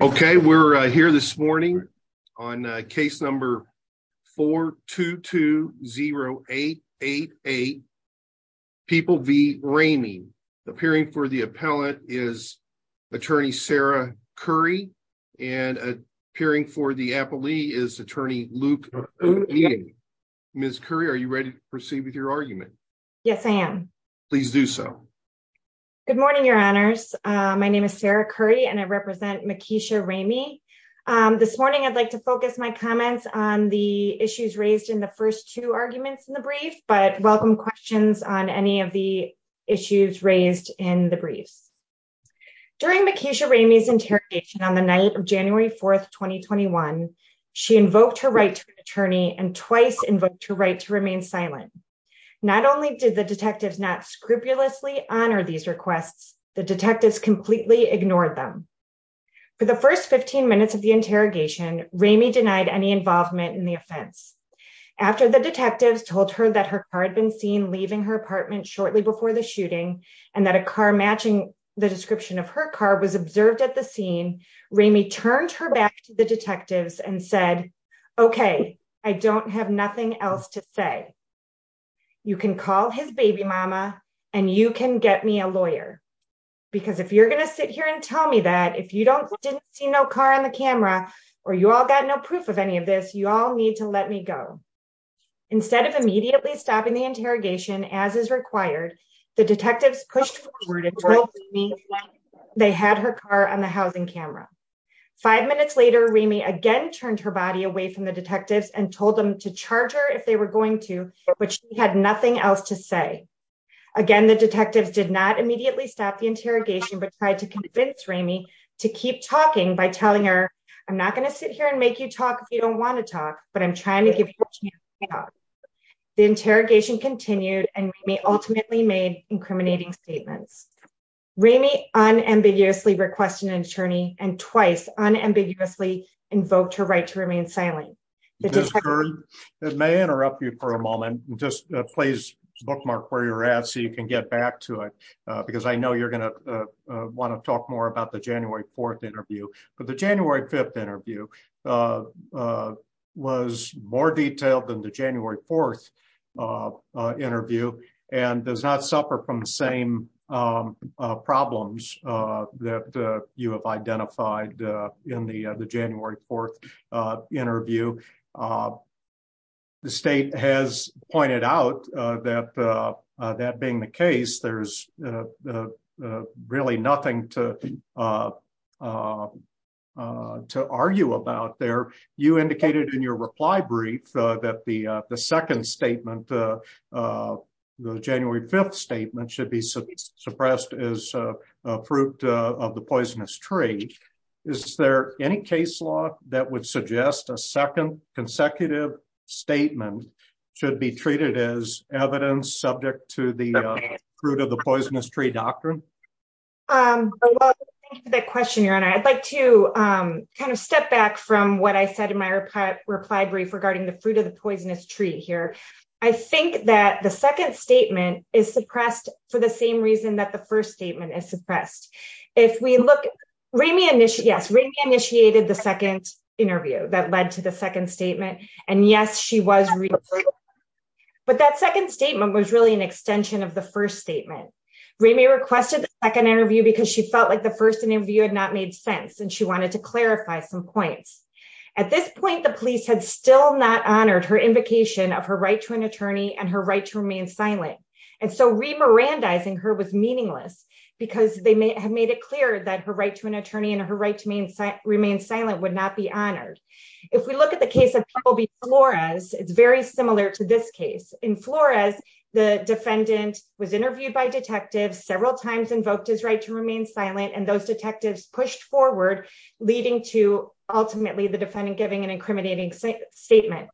Okay, we're here this morning on case number 4-2-2-0-8-8-8, People v. Ramey. Appearing for the appellate is attorney Sarah Curry and appearing for the appellee is attorney Luke O'Neill. Ms. Curry, are you ready to proceed with your argument? Yes, I am. Please do so. Good morning, your honors. My name is Sarah Curry and I represent Makisha Ramey. This morning, I'd like to focus my comments on the issues raised in the first two arguments in the brief, but welcome questions on any of the issues raised in the briefs. During Makisha Ramey's interrogation on the night of January 4, 2021, she invoked her right to an attorney and twice invoked her right to remain silent. Not only did the detectives not scrupulously honor these requests, the detectives completely ignored them. For the first 15 minutes of the interrogation, Ramey denied any involvement in the offense. After the detectives told her that her car had been seen leaving her apartment shortly before the shooting and that a car matching the description of her car was observed at the scene, Ramey turned her back to the detectives and said, Okay, I don't have nothing else to say. You can call his baby mama and you can get me a lawyer. Because if you're going to sit here and tell me that if you didn't see no car on the camera, or you all got no proof of any of this, you all need to let me go. Instead of immediately stopping the interrogation as is required, the detectives pushed forward and told Ramey they had her car on the housing camera. Five minutes later, Ramey again turned her body away from the detectives and told them to charge her if they were going to, but she had nothing else to say. Again, the detectives did not immediately stop the interrogation, but tried to convince Ramey to keep talking by telling her, I'm not going to sit here and make you talk if you don't want to talk, but I'm trying to give you a chance to talk. The interrogation continued and Ramey ultimately made incriminating statements. Ramey unambiguously requested an attorney and twice unambiguously invoked her right to remain silent. It may interrupt you for a moment. Just please bookmark where you're at so you can get back to it, because I know you're going to want to talk more about the January 4th interview, but the January 5th interview was more detailed than the January 4th and does not suffer from the same problems that you have identified in the January 4th interview. The state has pointed out that being the case, there's really nothing to argue about there. You indicated in your reply brief that the second statement, the January 5th statement, should be suppressed as a fruit of the poisonous tree. Is there any case law that would suggest a second consecutive statement should be treated as evidence subject to the fruit of the poisonous tree doctrine? Well, thank you for that question, Your Honor. I'd like to kind of step back from what I said in my reply brief regarding the fruit of the poisonous tree here. I think that the second statement is suppressed for the same reason that the first statement is suppressed. If we look, Ramey initiated the second interview that led to the second statement, and yes, she was. But that second statement was really an extension of the first statement. Ramey requested the second interview because she felt like the first interview had not made sense, and she wanted to clarify some points. At this point, the police had still not honored her invocation of her right to an attorney and her right to remain silent. And so re-Mirandaizing her was meaningless because they have made it clear that her right to an attorney and her right to remain silent would not be honored. If we look at the case of Toby Flores, it's very similar to this case. In Flores, the defendant was interviewed by detectives several times, invoked his right to remain silent, and those detectives pushed forward, leading to ultimately the defendant giving an incriminating statement.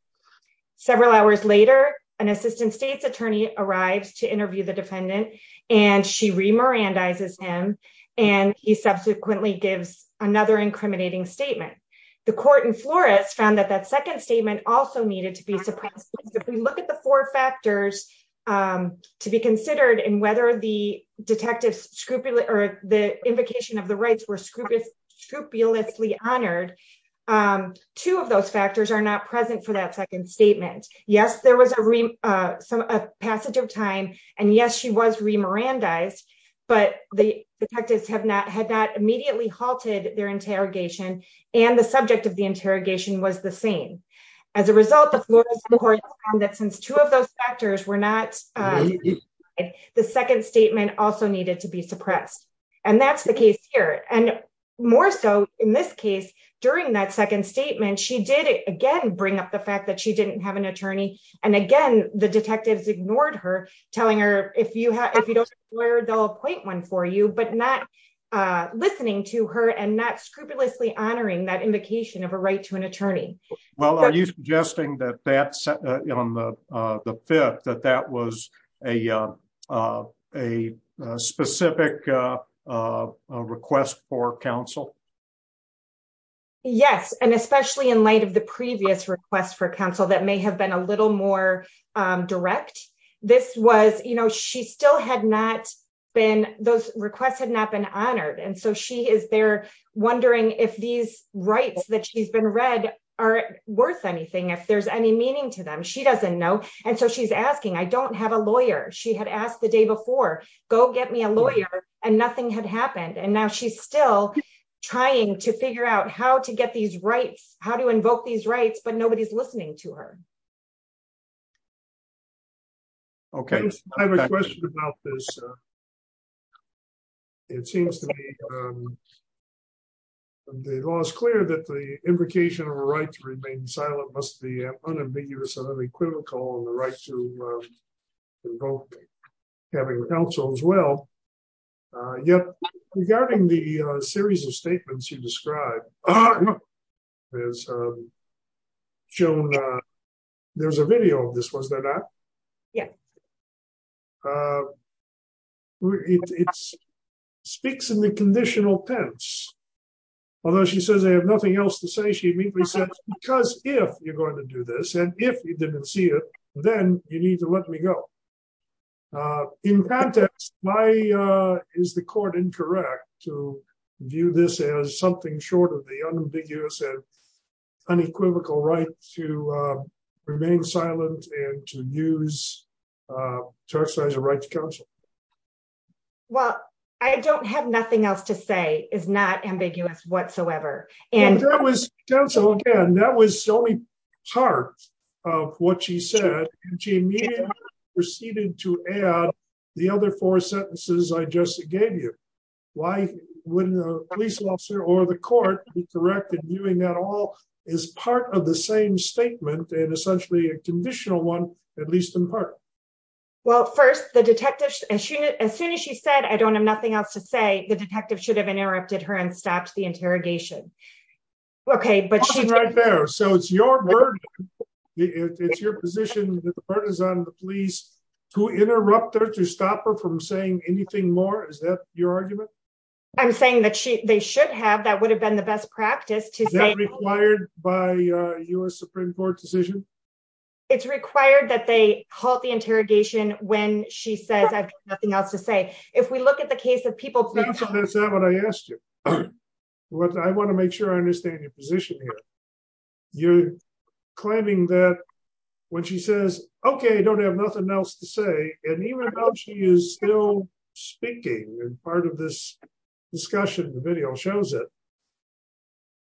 Several hours later, an assistant state's attorney arrives to interview the defendant, and she re-Mirandaizes him, and he subsequently gives another incriminating statement. The court in Flores found that that second statement also needed to be suppressed. If we look at the four factors to be considered in whether the invocation of the rights were scrupulously honored, two of those factors are not present for that second statement. Yes, there was a passage of time, and yes, she was re-Mirandaized, but the detectives had not immediately halted their interrogation, and the subject of the interrogation was the same. As a result, the court found that since two of those factors were not, the second statement also needed to be suppressed, and that's the case here. And more so, in this case, during that second statement, she did, again, bring up the fact that she didn't have an attorney, and again, the detectives ignored her, telling her, if you don't have a lawyer, they'll appoint one for you, but not listening to her and not scrupulously honoring that invocation of a right to an attorney. Well, are you suggesting that that's, on the fifth, that that was a specific request for counsel? Yes, and especially in light of the previous request for counsel that may have been a little more direct, this was, you know, she still had not been, those requests had not been read worth anything, if there's any meaning to them. She doesn't know, and so she's asking, I don't have a lawyer. She had asked the day before, go get me a lawyer, and nothing had happened, and now she's still trying to figure out how to get these rights, how to invoke these rights, but nobody's listening to her. Okay, I have a question about this. It seems to me, the law is clear that the invocation of a right to remain silent must be unambiguous and unequivocal, and the right to invoke having counsel as well, yet regarding the series of statements you described, there's a video of this, was there not? Yeah. It speaks in the conditional tense, although she says I have nothing else to say, she immediately says, because if you're going to do this, and if you didn't see it, then you need to let me go. In context, why is the court incorrect to view this as something short of the unambiguous and unequivocal right to remain silent and to use, to exercise a right to counsel? Well, I don't have nothing else to say is not ambiguous whatsoever. And that was, again, that was the only part of what she said, and she immediately proceeded to add the other four sentences I just gave you. Why wouldn't a police officer or the court be correct in viewing that all as part of the same statement, and essentially a conditional one, at least in part? Well, first, the detective, as soon as she said, I don't have nothing else to say, the detective should have interrupted her and stopped the interrogation. Okay, but she's right there. So it's your word. It's your position that the burden is on the police to interrupt her to stop her from saying anything more. Is that your argument? I'm saying that they should have. That would have been the best practice to say. Is that required by a US Supreme Court decision? It's required that they halt the interrogation when she says I have nothing else to say. If we look at the case of people. That's not what I asked you. I want to make sure I understand your position here. You're claiming that when she says, okay, I don't have nothing else to say. And even though she is still speaking and part of this discussion, the video shows it.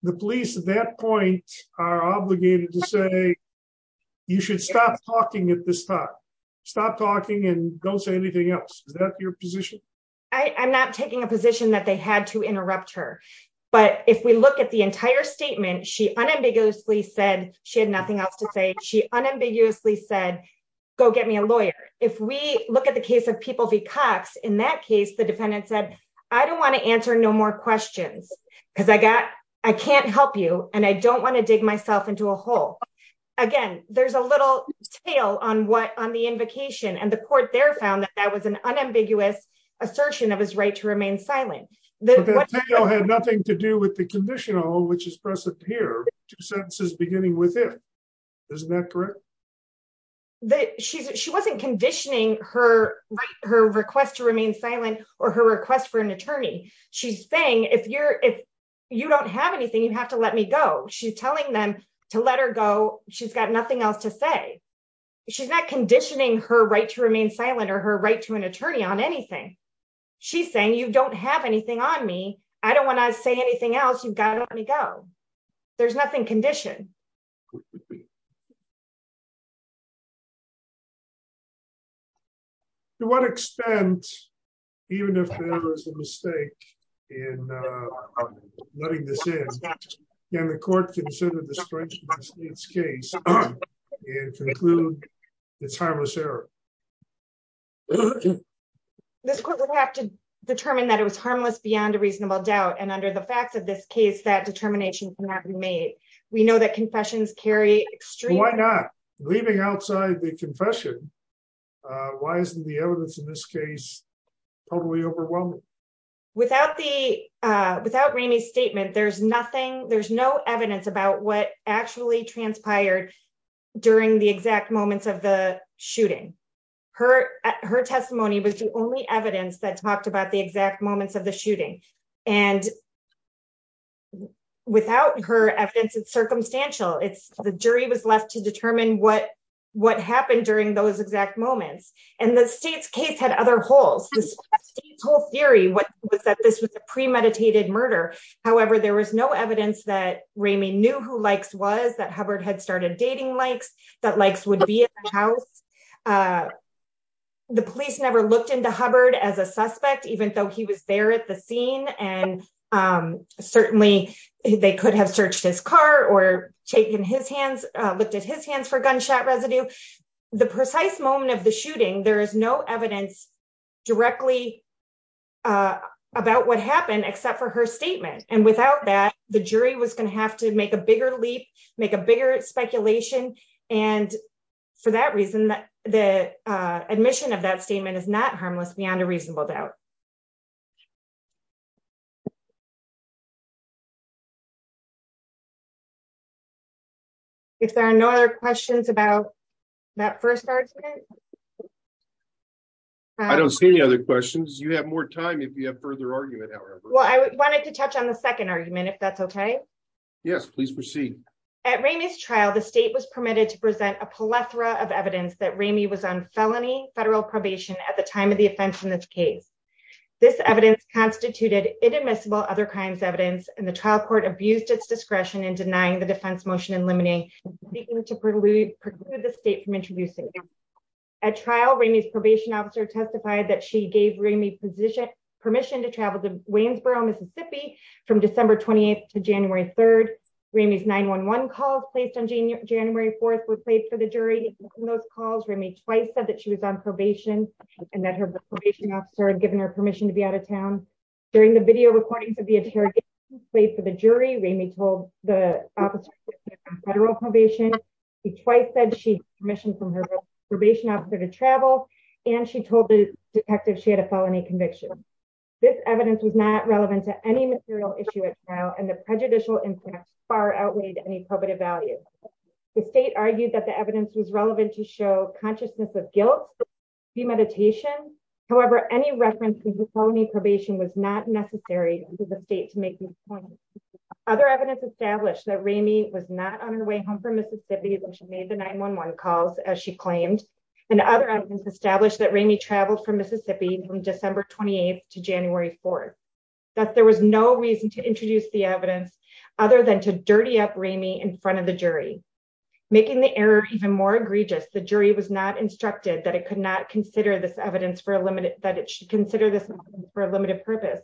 The police at that point are obligated to say, you should stop talking at this time. Stop talking and don't say anything else. Is that your position? I'm not taking a position that they had to interrupt her. But if we look at the entire statement, she unambiguously said she had nothing else to say. She unambiguously said, go get me a lawyer. If we look at the case of people V Cox, in that case, the defendant said, I don't want to answer no more questions. Because I got, I can't help you. And I don't want to dig myself into a hole. Again, there's a little tale on what on the invocation and the court there found that that was an unambiguous assertion of his right to remain silent. That had nothing to do with the conditional, which is present here. Two sentences beginning with it. Isn't that correct? She wasn't conditioning her request to remain silent or her request for an attorney. She's saying, if you're, if you don't have anything, you have to let me go. She's telling them to let her go. She's got nothing else to say. She's not conditioning her right to remain silent or her right to an attorney on anything. She's saying, you don't have anything on me. I don't want to say anything else. You've got to let me go. There's nothing condition. To what extent, even if there was a mistake in letting this in, can the court consider the strength of its case and conclude it's harmless error? This court would have to determine that it was harmless beyond a reasonable doubt. And under the facts of this case, that determination cannot be made. We know that confessions carry extreme. Why not leaving outside the confession? Why isn't the evidence in this case? Totally overwhelming. Without the, uh, without Remy's statement, there's nothing, there's no evidence about what actually transpired during the exact moments of the shooting. Her, her testimony was the only evidence that talked about the exact moments of the shooting. And without her evidence, it's circumstantial. It's the jury was left to determine what, what happened during those exact moments. And the state's case had other holes. The state's whole theory was that this was a premeditated murder. However, there was no evidence that Remy knew who Likes was, that Hubbard had started dating Uh, the police never looked into Hubbard as a suspect, even though he was there at the scene. And, um, certainly they could have searched his car or taken his hands, uh, looked at his hands for gunshot residue. The precise moment of the shooting. There is no evidence directly, uh, about what happened except for her statement. And without that, the jury was going to have to make a bigger leap, make a bigger speculation. And for that reason, that the, uh, admission of that statement is not harmless beyond a reasonable doubt. If there are no other questions about that first part. I don't see any other questions. You have more time. If you have further argument, however, well, I wanted to touch on the second argument, if that's okay. Yes, please proceed. At Remy's trial, the state was permitted to present a plethora of evidence that Remy was on felony federal probation at the time of the offense in this case, this evidence constituted inadmissible other crimes evidence, and the trial court abused its discretion in denying the defense motion and limiting the state from introducing a trial. Remy's probation officer testified that she gave Remy position permission to travel to Remy's 911 calls placed on January 4th were played for the jury in those calls. Remy twice said that she was on probation and that her probation officer had given her permission to be out of town during the video recordings of the interrogation played for the jury. Remy told the officer federal probation. He twice said she commissioned from her probation officer to travel. And she told the detective she had a felony conviction. This evidence was not relevant to any material issue at trial. The prejudicial impact far outweighed any probative value. The state argued that the evidence was relevant to show consciousness of guilt, premeditation. However, any reference to felony probation was not necessary for the state to make this point. Other evidence established that Remy was not on her way home from Mississippi when she made the 911 calls as she claimed. And other evidence established that Remy traveled from Mississippi from December 28th to January 4th, that there was no reason to introduce the evidence other than to dirty up Remy in front of the jury, making the error even more egregious. The jury was not instructed that it could not consider this evidence for a limited that it should consider this for a limited purpose,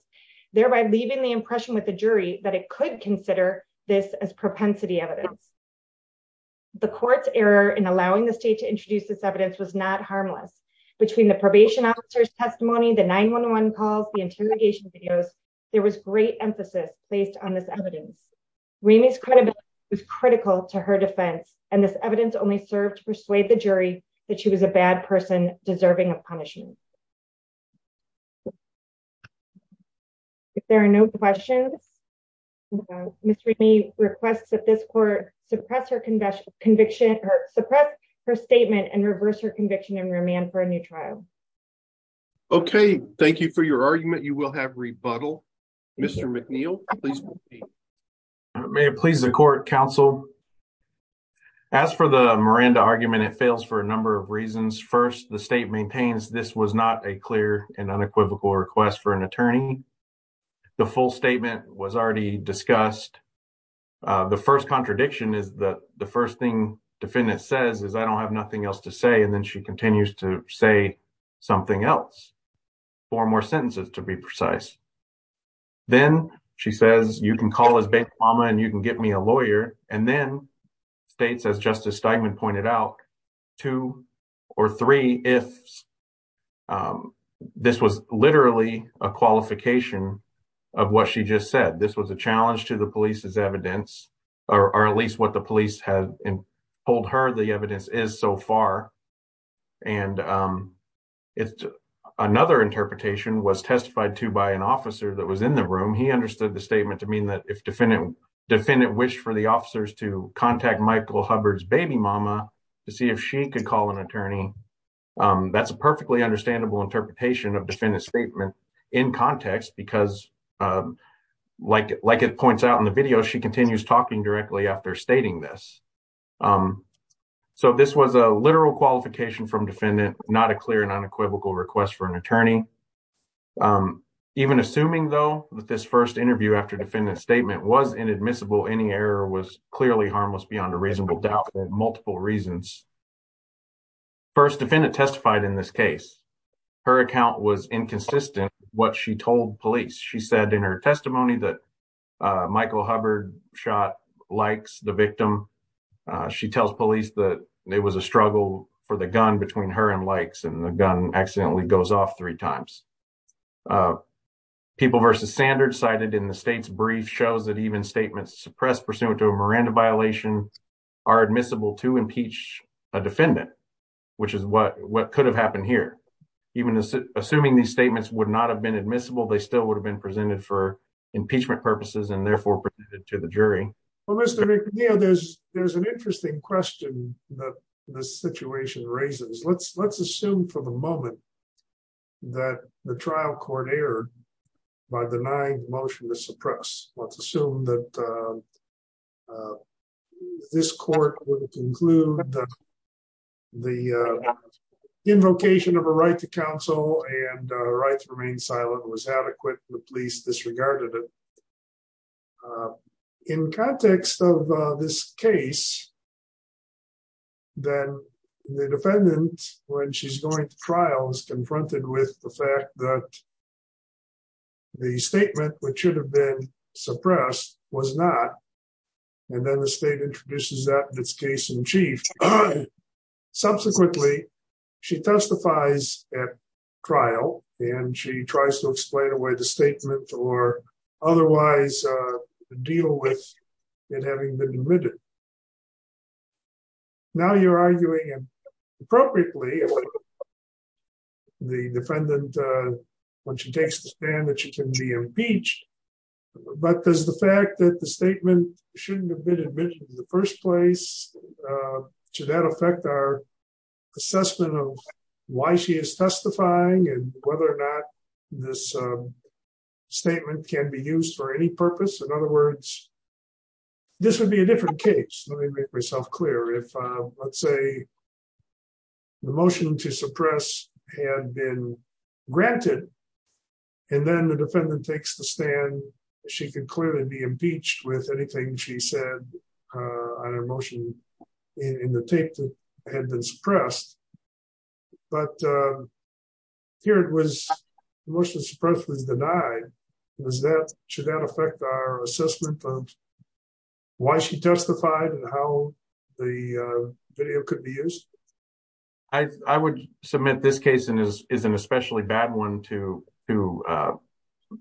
thereby leaving the impression with the jury that it could consider this as propensity evidence. The court's error in allowing the state to introduce this evidence was not harmless Between the probation officer's testimony, the 911 calls, the interrogation videos, there was great emphasis based on this evidence. Remy's credibility was critical to her defense, and this evidence only served to persuade the jury that she was a bad person deserving of punishment. If there are no questions, Ms. Remy requests that this court suppress her conviction or a new trial. Okay, thank you for your argument. You will have rebuttal. Mr. McNeil, please. May it please the court, counsel. As for the Miranda argument, it fails for a number of reasons. First, the state maintains this was not a clear and unequivocal request for an attorney. The full statement was already discussed. The first contradiction is that the first thing defendant says is I don't have nothing else to say, and then she continues to say something else, four more sentences to be precise. Then she says you can call his bank mama and you can get me a lawyer, and then states, as Justice Steinman pointed out, two or three ifs. This was literally a qualification of what she just said. This was a challenge to the police's evidence, or at least what the police have told her the evidence is so far. Another interpretation was testified to by an officer that was in the room. He understood the statement to mean that if defendant wished for the officers to contact Michael Hubbard's baby mama to see if she could call an attorney, that's a perfectly understandable interpretation of defendant's statement in context because, like it points out in the video, she continues talking directly after stating this. This was a literal qualification from defendant, not a clear and unequivocal request for an attorney. Even assuming, though, that this first interview after defendant's statement was inadmissible, any error was clearly harmless beyond a reasonable doubt for multiple reasons. First, defendant testified in this case. Her account was inconsistent what she told police. She said in her testimony that Michael Hubbard shot likes the victim. She tells police that it was a struggle for the gun between her and likes and the gun accidentally goes off three times. People versus standards cited in the state's brief shows that even statements suppressed pursuant to a Miranda violation are admissible to impeach a defendant, which is what could have happened here. Even assuming these statements would not have been admissible, they still would have been presented for impeachment purposes and therefore presented to the jury. Well, Mr. McNeil, there's an interesting question that this situation raises. Let's assume for the moment that the trial court erred by denying motion to suppress. Let's assume that this court would conclude that the invocation of a right to counsel and right to remain silent was adequate. The police disregarded it. In context of this case, then the defendant, when she's going to trial, is confronted with the fact that the statement which should have been suppressed was not, and then the state introduces that in its case in chief. Subsequently, she testifies at trial and she tries to explain away the statement or otherwise deal with it having been admitted. Now you're arguing, appropriately, the defendant, when she takes the stand, that she can be impeached, but does the fact that the statement shouldn't have been admitted in the first place, should that affect our assessment of why she is testifying and whether or not this statement can be used for any purpose? In other words, this would be a different case. Let me make myself clear. If, let's say, the motion to suppress had been granted and then the defendant takes the stand, she could clearly be impeached with anything she said on her motion in the tape that had been suppressed. But here it was, the motion to suppress was denied, should that affect our assessment of why she testified and how the video could be used? I would submit this case is an especially bad one to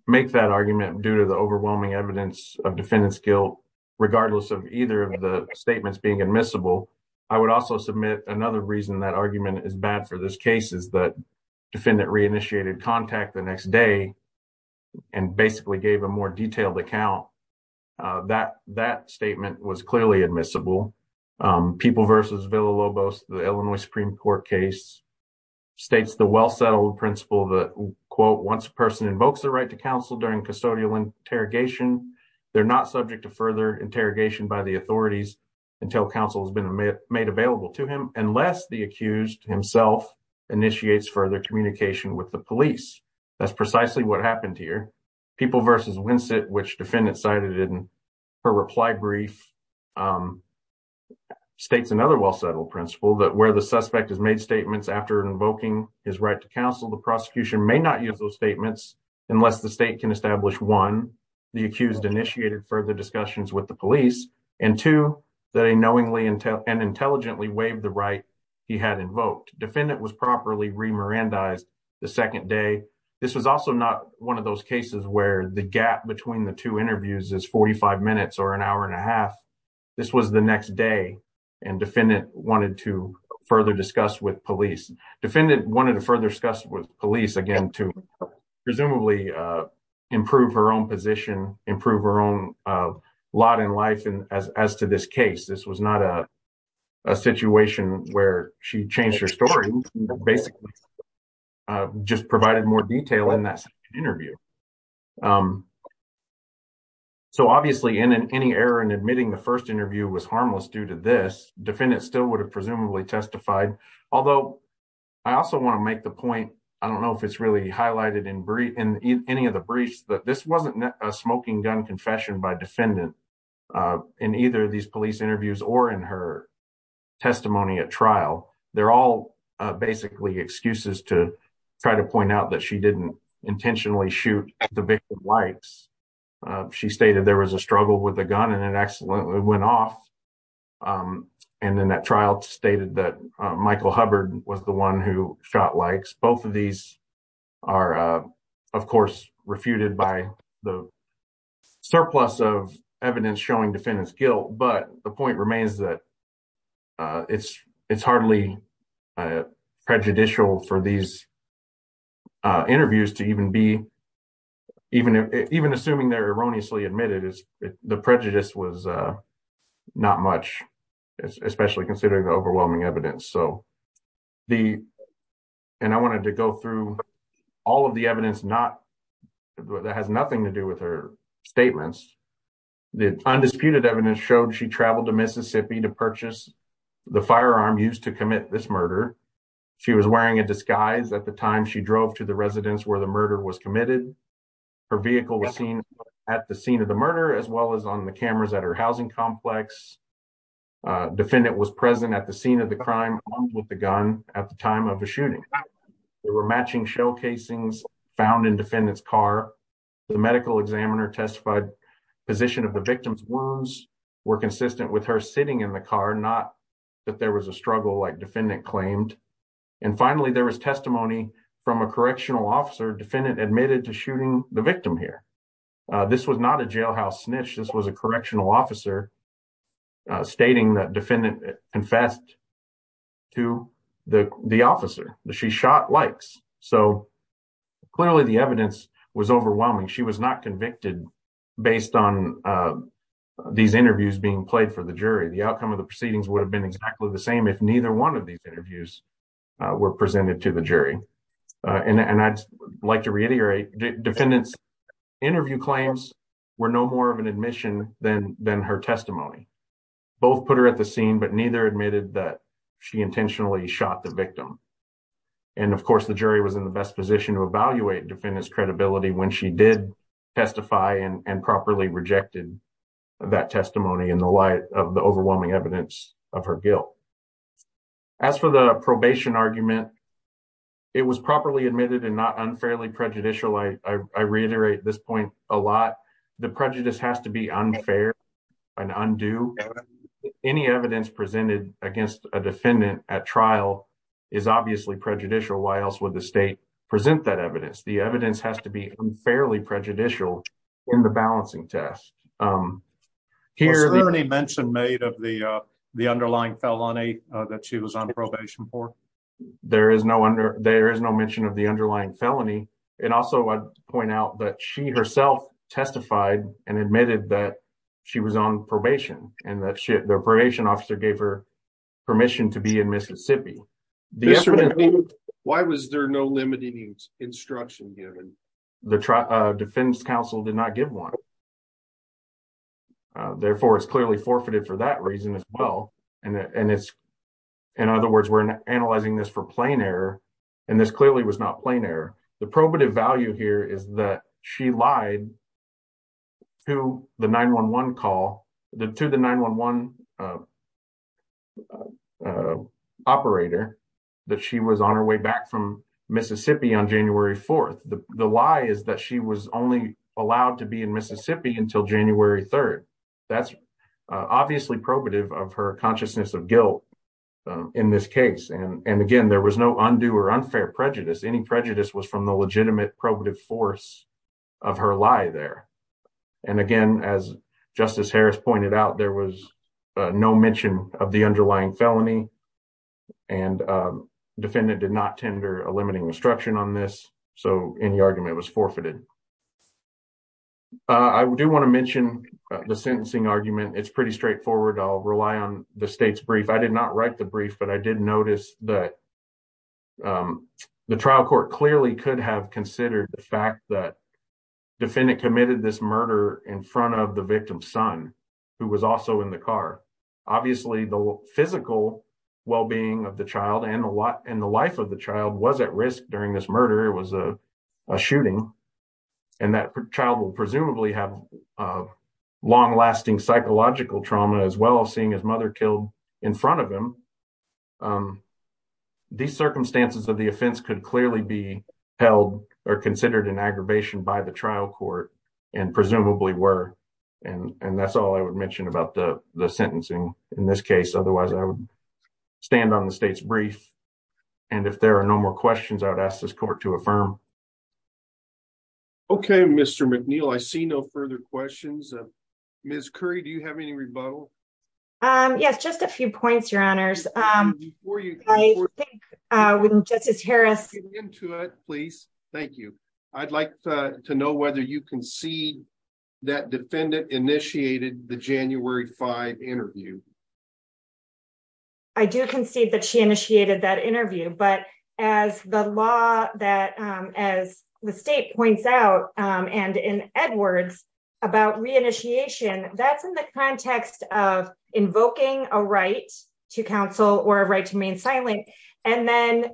make that argument due to the overwhelming evidence of defendant's guilt, regardless of either of the statements being admissible. I would also submit another reason that argument is bad for this case is that defendant reinitiated contact the next day and basically gave a more detailed account. That statement was clearly admissible. People v. Villa-Lobos, the Illinois Supreme Court case, states the well-settled principle that, quote, once a person invokes their right to counsel during custodial interrogation, they're not subject to further interrogation by the authorities until counsel has been made available to him, unless the accused himself initiates further communication with the police. That's precisely what happened here. People v. Winsett, which defendant cited in her reply brief, states another well-settled principle that where the suspect has made statements after invoking his right to counsel, the prosecution may not use those statements unless the state can establish, one, the accused initiated further discussions with the police, and two, that he knowingly and intelligently waived the right he had invoked. Defendant was properly re-Mirandized the second day. This was also not one of those cases where the gap between the two interviews is 45 minutes or an hour and a half. This was the next day, and defendant wanted to further discuss with police. Defendant wanted to further discuss with police, again, to presumably improve her own position, improve her own lot in life as to this case. This was not a situation where she changed her story, but basically just provided more detail in that interview. So obviously, any error in admitting the first interview was harmless due to this. Defendant still would have presumably testified. Although, I also want to make the point, I don't know if it's really highlighted in any of the briefs, that this wasn't a smoking gun confession by defendant in either of these police interviews or in her testimony at trial. They're all basically excuses to try to point out that she didn't intentionally shoot at the victim's likes. She stated there was a struggle with the gun, and it accidentally went off, and then that trial stated that Michael Hubbard was the one who shot likes. Both of these are, of course, refuted by the surplus of evidence showing defendant's guilt. But the point remains that it's hardly prejudicial for these interviews to even be, even assuming they're erroneously admitted, the prejudice was not much, especially considering the overwhelming evidence. So, and I wanted to go through all of the evidence that has nothing to do with her statements. The undisputed evidence showed she traveled to Mississippi to purchase the firearm used to commit this murder. She was wearing a disguise at the time she drove to the residence where the murder was committed. Her vehicle was seen at the scene of the murder, as well as on the cameras at her housing complex. A defendant was present at the scene of the crime with the gun at the time of the shooting. There were matching shell casings found in defendant's car. The medical examiner testified position of the victim's wounds were consistent with her sitting in the car, not that there was a struggle like defendant claimed. And finally, there was testimony from a correctional officer defendant admitted to shooting the victim here. This was not a jailhouse snitch. This was a correctional officer stating that defendant confessed to the officer that she shot likes. So, clearly the evidence was overwhelming. She was not convicted based on these interviews being played for the jury. The outcome of the proceedings would have been exactly the same if neither one of these interviews were presented to the jury. And I'd like to reiterate defendant's interview claims were no more of an admission than her testimony. Both put her at the scene, but neither admitted that she intentionally shot the victim. And of course, the jury was in the best position to evaluate defendant's credibility when she did testify and properly rejected that testimony in the light of the overwhelming evidence of her guilt. As for the probation argument, it was properly admitted and not unfairly prejudicial. I reiterate this point a lot. The prejudice has to be unfair and undue. Any evidence presented against a defendant at trial is obviously prejudicial. Why else would the state present that evidence? The evidence has to be fairly prejudicial in the balancing test. Was there any mention made of the underlying felony that she was on probation for? There is no mention of the underlying felony. And also, I'd point out that she herself testified and admitted that she was on probation and that the probation officer gave her permission to be in Mississippi. Why was there no limiting instruction given? The defense counsel did not give one. Therefore, it's clearly forfeited for that reason as well. In other words, we're analyzing this for plain error. And this clearly was not plain error. The probative value here is that she lied to the 911 operator that she was on her way back from Mississippi on January 4th. The lie is that she was only allowed to be in Mississippi until January 3rd. That's obviously probative of her consciousness of guilt in this case. And again, there was no undue or unfair prejudice. Any prejudice was from the legitimate probative force of her lie there. And again, as Justice Harris pointed out, there was no mention of the underlying felony. And the defendant did not tender a limiting instruction on this. So, any argument was forfeited. I do want to mention the sentencing argument. It's pretty straightforward. I'll rely on the state's brief. I did not write the brief, but I did notice that the trial court clearly could have considered the fact that the defendant committed this murder in front of the victim's son, who was also in the car. Obviously, the physical well-being of the child and the life of the child was at risk during this murder. It was a shooting. And that child will presumably have long-lasting psychological trauma as well as seeing his mother killed in front of him. These circumstances of the offense could clearly be held or considered an aggravation by the trial court and presumably were. And that's all I would mention about the sentencing in this case. Otherwise, I would stand on the state's brief. And if there are no more questions, I would ask this court to affirm. Okay, Mr. McNeil. I see no further questions. Ms. Curry, do you have any rebuttal? Yes, just a few points, Your Honors. I think when Justice Harris... Get into it, please. Thank you. I'd like to know whether you concede that defendant initiated the January 5 interview. I do concede that she initiated that interview. But as the law that, as the state points out, and in Edwards about reinitiation, that's in the context of invoking a right to counsel or a right to remain silent. And then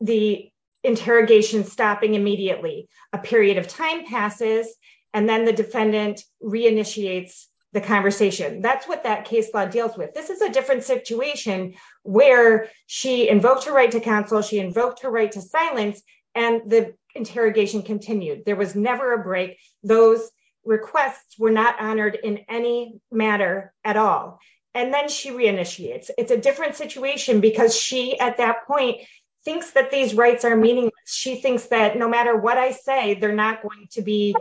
the interrogation stopping immediately, a period of time passes, and then the defendant reinitiates the conversation. That's what that case law deals with. This is a different situation where she invoked her right to counsel, she invoked her right to silence, and the interrogation continued. There was never a break. Those requests were not honored in any matter at all. And then she reinitiates. It's a different situation because she, at that point, thinks that these rights are meaningless. She thinks that no matter what I say, they're not going to be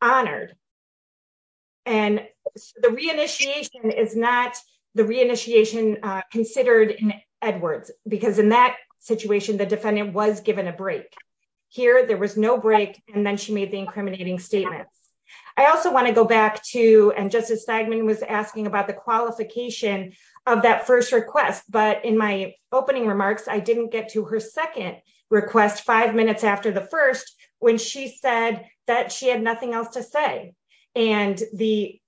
honored. And the reinitiation is not the reinitiation considered in Edwards, because in that situation, the defendant was given a break. Here, there was no break. And then she made the incriminating statements. I also want to go back to, and Justice Stegman was asking about the qualification of that first request. But in my opening remarks, I didn't get to her second request five minutes after the first, when she said that she had nothing else to say. And the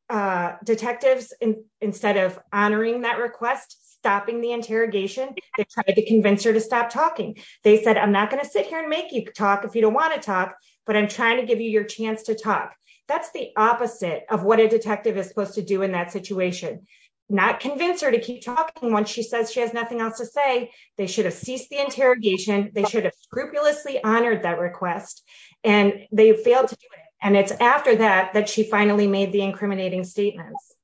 detectives, instead of honoring that request, stopping the interrogation, they tried to convince her to stop talking. They said, I'm not going to sit here and make you talk if you don't want to talk, but I'm trying to give you your chance to talk. That's the opposite of what a detective is supposed to do in that situation. Not convince her to keep talking once she says she has nothing else to say. They should have ceased the interrogation. They should have scrupulously honored that request. And they failed to do it. And it's after that, that she finally made the incriminating statements.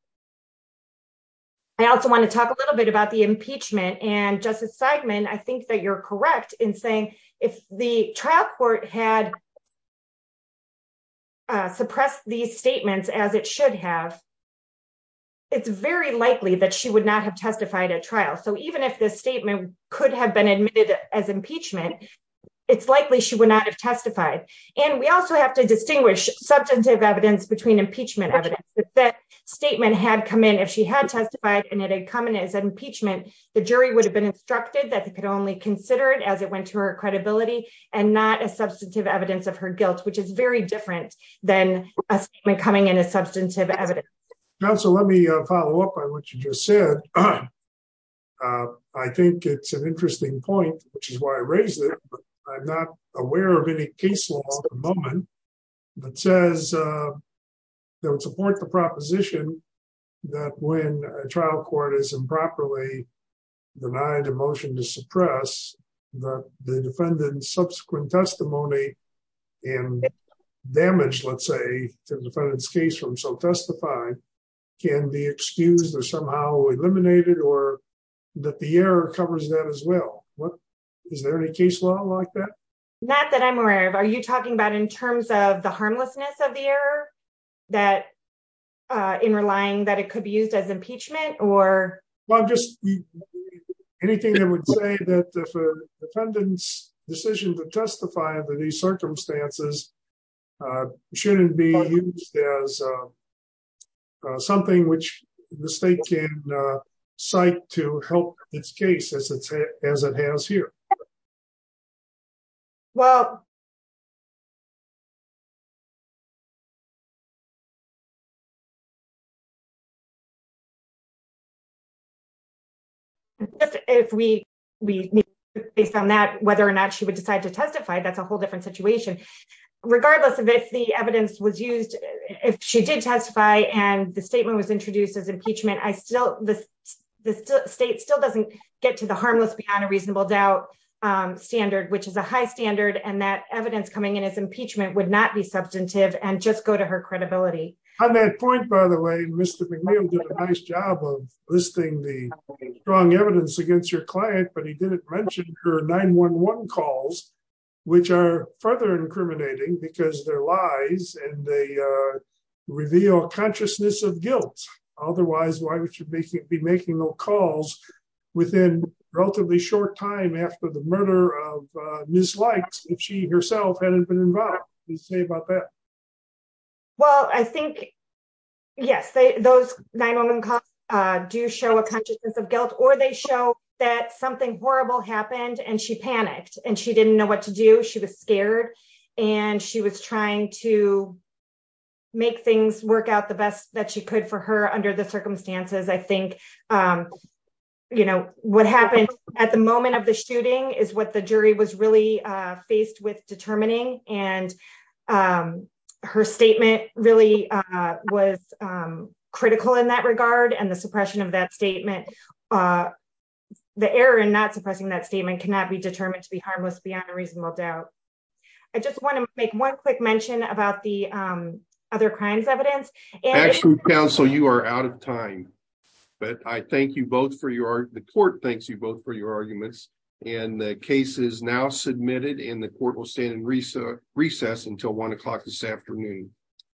I also want to talk a little bit about the impeachment. And Justice Stegman, I think that you're correct in saying if the trial court had suppressed these statements as it should have, it's very likely that she would not have testified at trial. So even if this statement could have been admitted as impeachment, it's likely she would not have testified. And we also have to distinguish substantive evidence between impeachment evidence. If that statement had come in, if she had testified and it had come in as an impeachment, the jury would have been instructed that they could only consider it as it went to her credibility and not as substantive evidence of her guilt, which is very different than a statement coming in as substantive evidence. Counsel, let me follow up on what you just said. I think it's an interesting point, which is why I raised it. I'm not aware of any case law at the moment that says, that would support the proposition that when a trial court is improperly denied a motion to suppress, that the defendant's subsequent testimony and damage, let's say, to the defendant's case from self-testifying can be excused or somehow eliminated or that the error covers that as well. Is there any case law like that? Not that I'm aware of. Are you talking about in terms of the harmlessness of the error that in relying that it could be used as impeachment or? Well, just anything that would say that the defendant's decision to testify under these circumstances shouldn't be used as something which the state can cite to help its case as it has here. Well. If we based on that, whether or not she would decide to testify, that's a whole different situation. Regardless of if the evidence was used, if she did testify and the statement was introduced as impeachment, the state still doesn't get to the harmless beyond a reasonable doubt standard, which is a high standard and that evidence coming in as impeachment would not be substantive and just go to her credibility. On that point, by the way, Mr. McNeil did a nice job of listing the strong evidence against your client, but he didn't mention her 911 calls, which are further incriminating because they're lies and they reveal consciousness of guilt. Otherwise, why would you be making no calls within relatively short time after the murder of Ms. Likes if she herself hadn't been involved? Please say about that. Well, I think, yes, those 911 calls do show a consciousness of guilt or they show that something horrible happened and she panicked and she didn't know what to do. She was scared and she was trying to make things work out the best that she could for her under the circumstances. I think what happened at the moment of the shooting is what the jury was really faced with determining and her statement really was critical in that regard and the suppression of that statement, the error in not suppressing that statement cannot be determined to be a reasonable doubt. I just want to make one quick mention about the other crimes evidence. Counsel, you are out of time, but I thank you both for the court. Thanks you both for your arguments and the case is now submitted and the court will stand in recess until 1 o'clock this afternoon.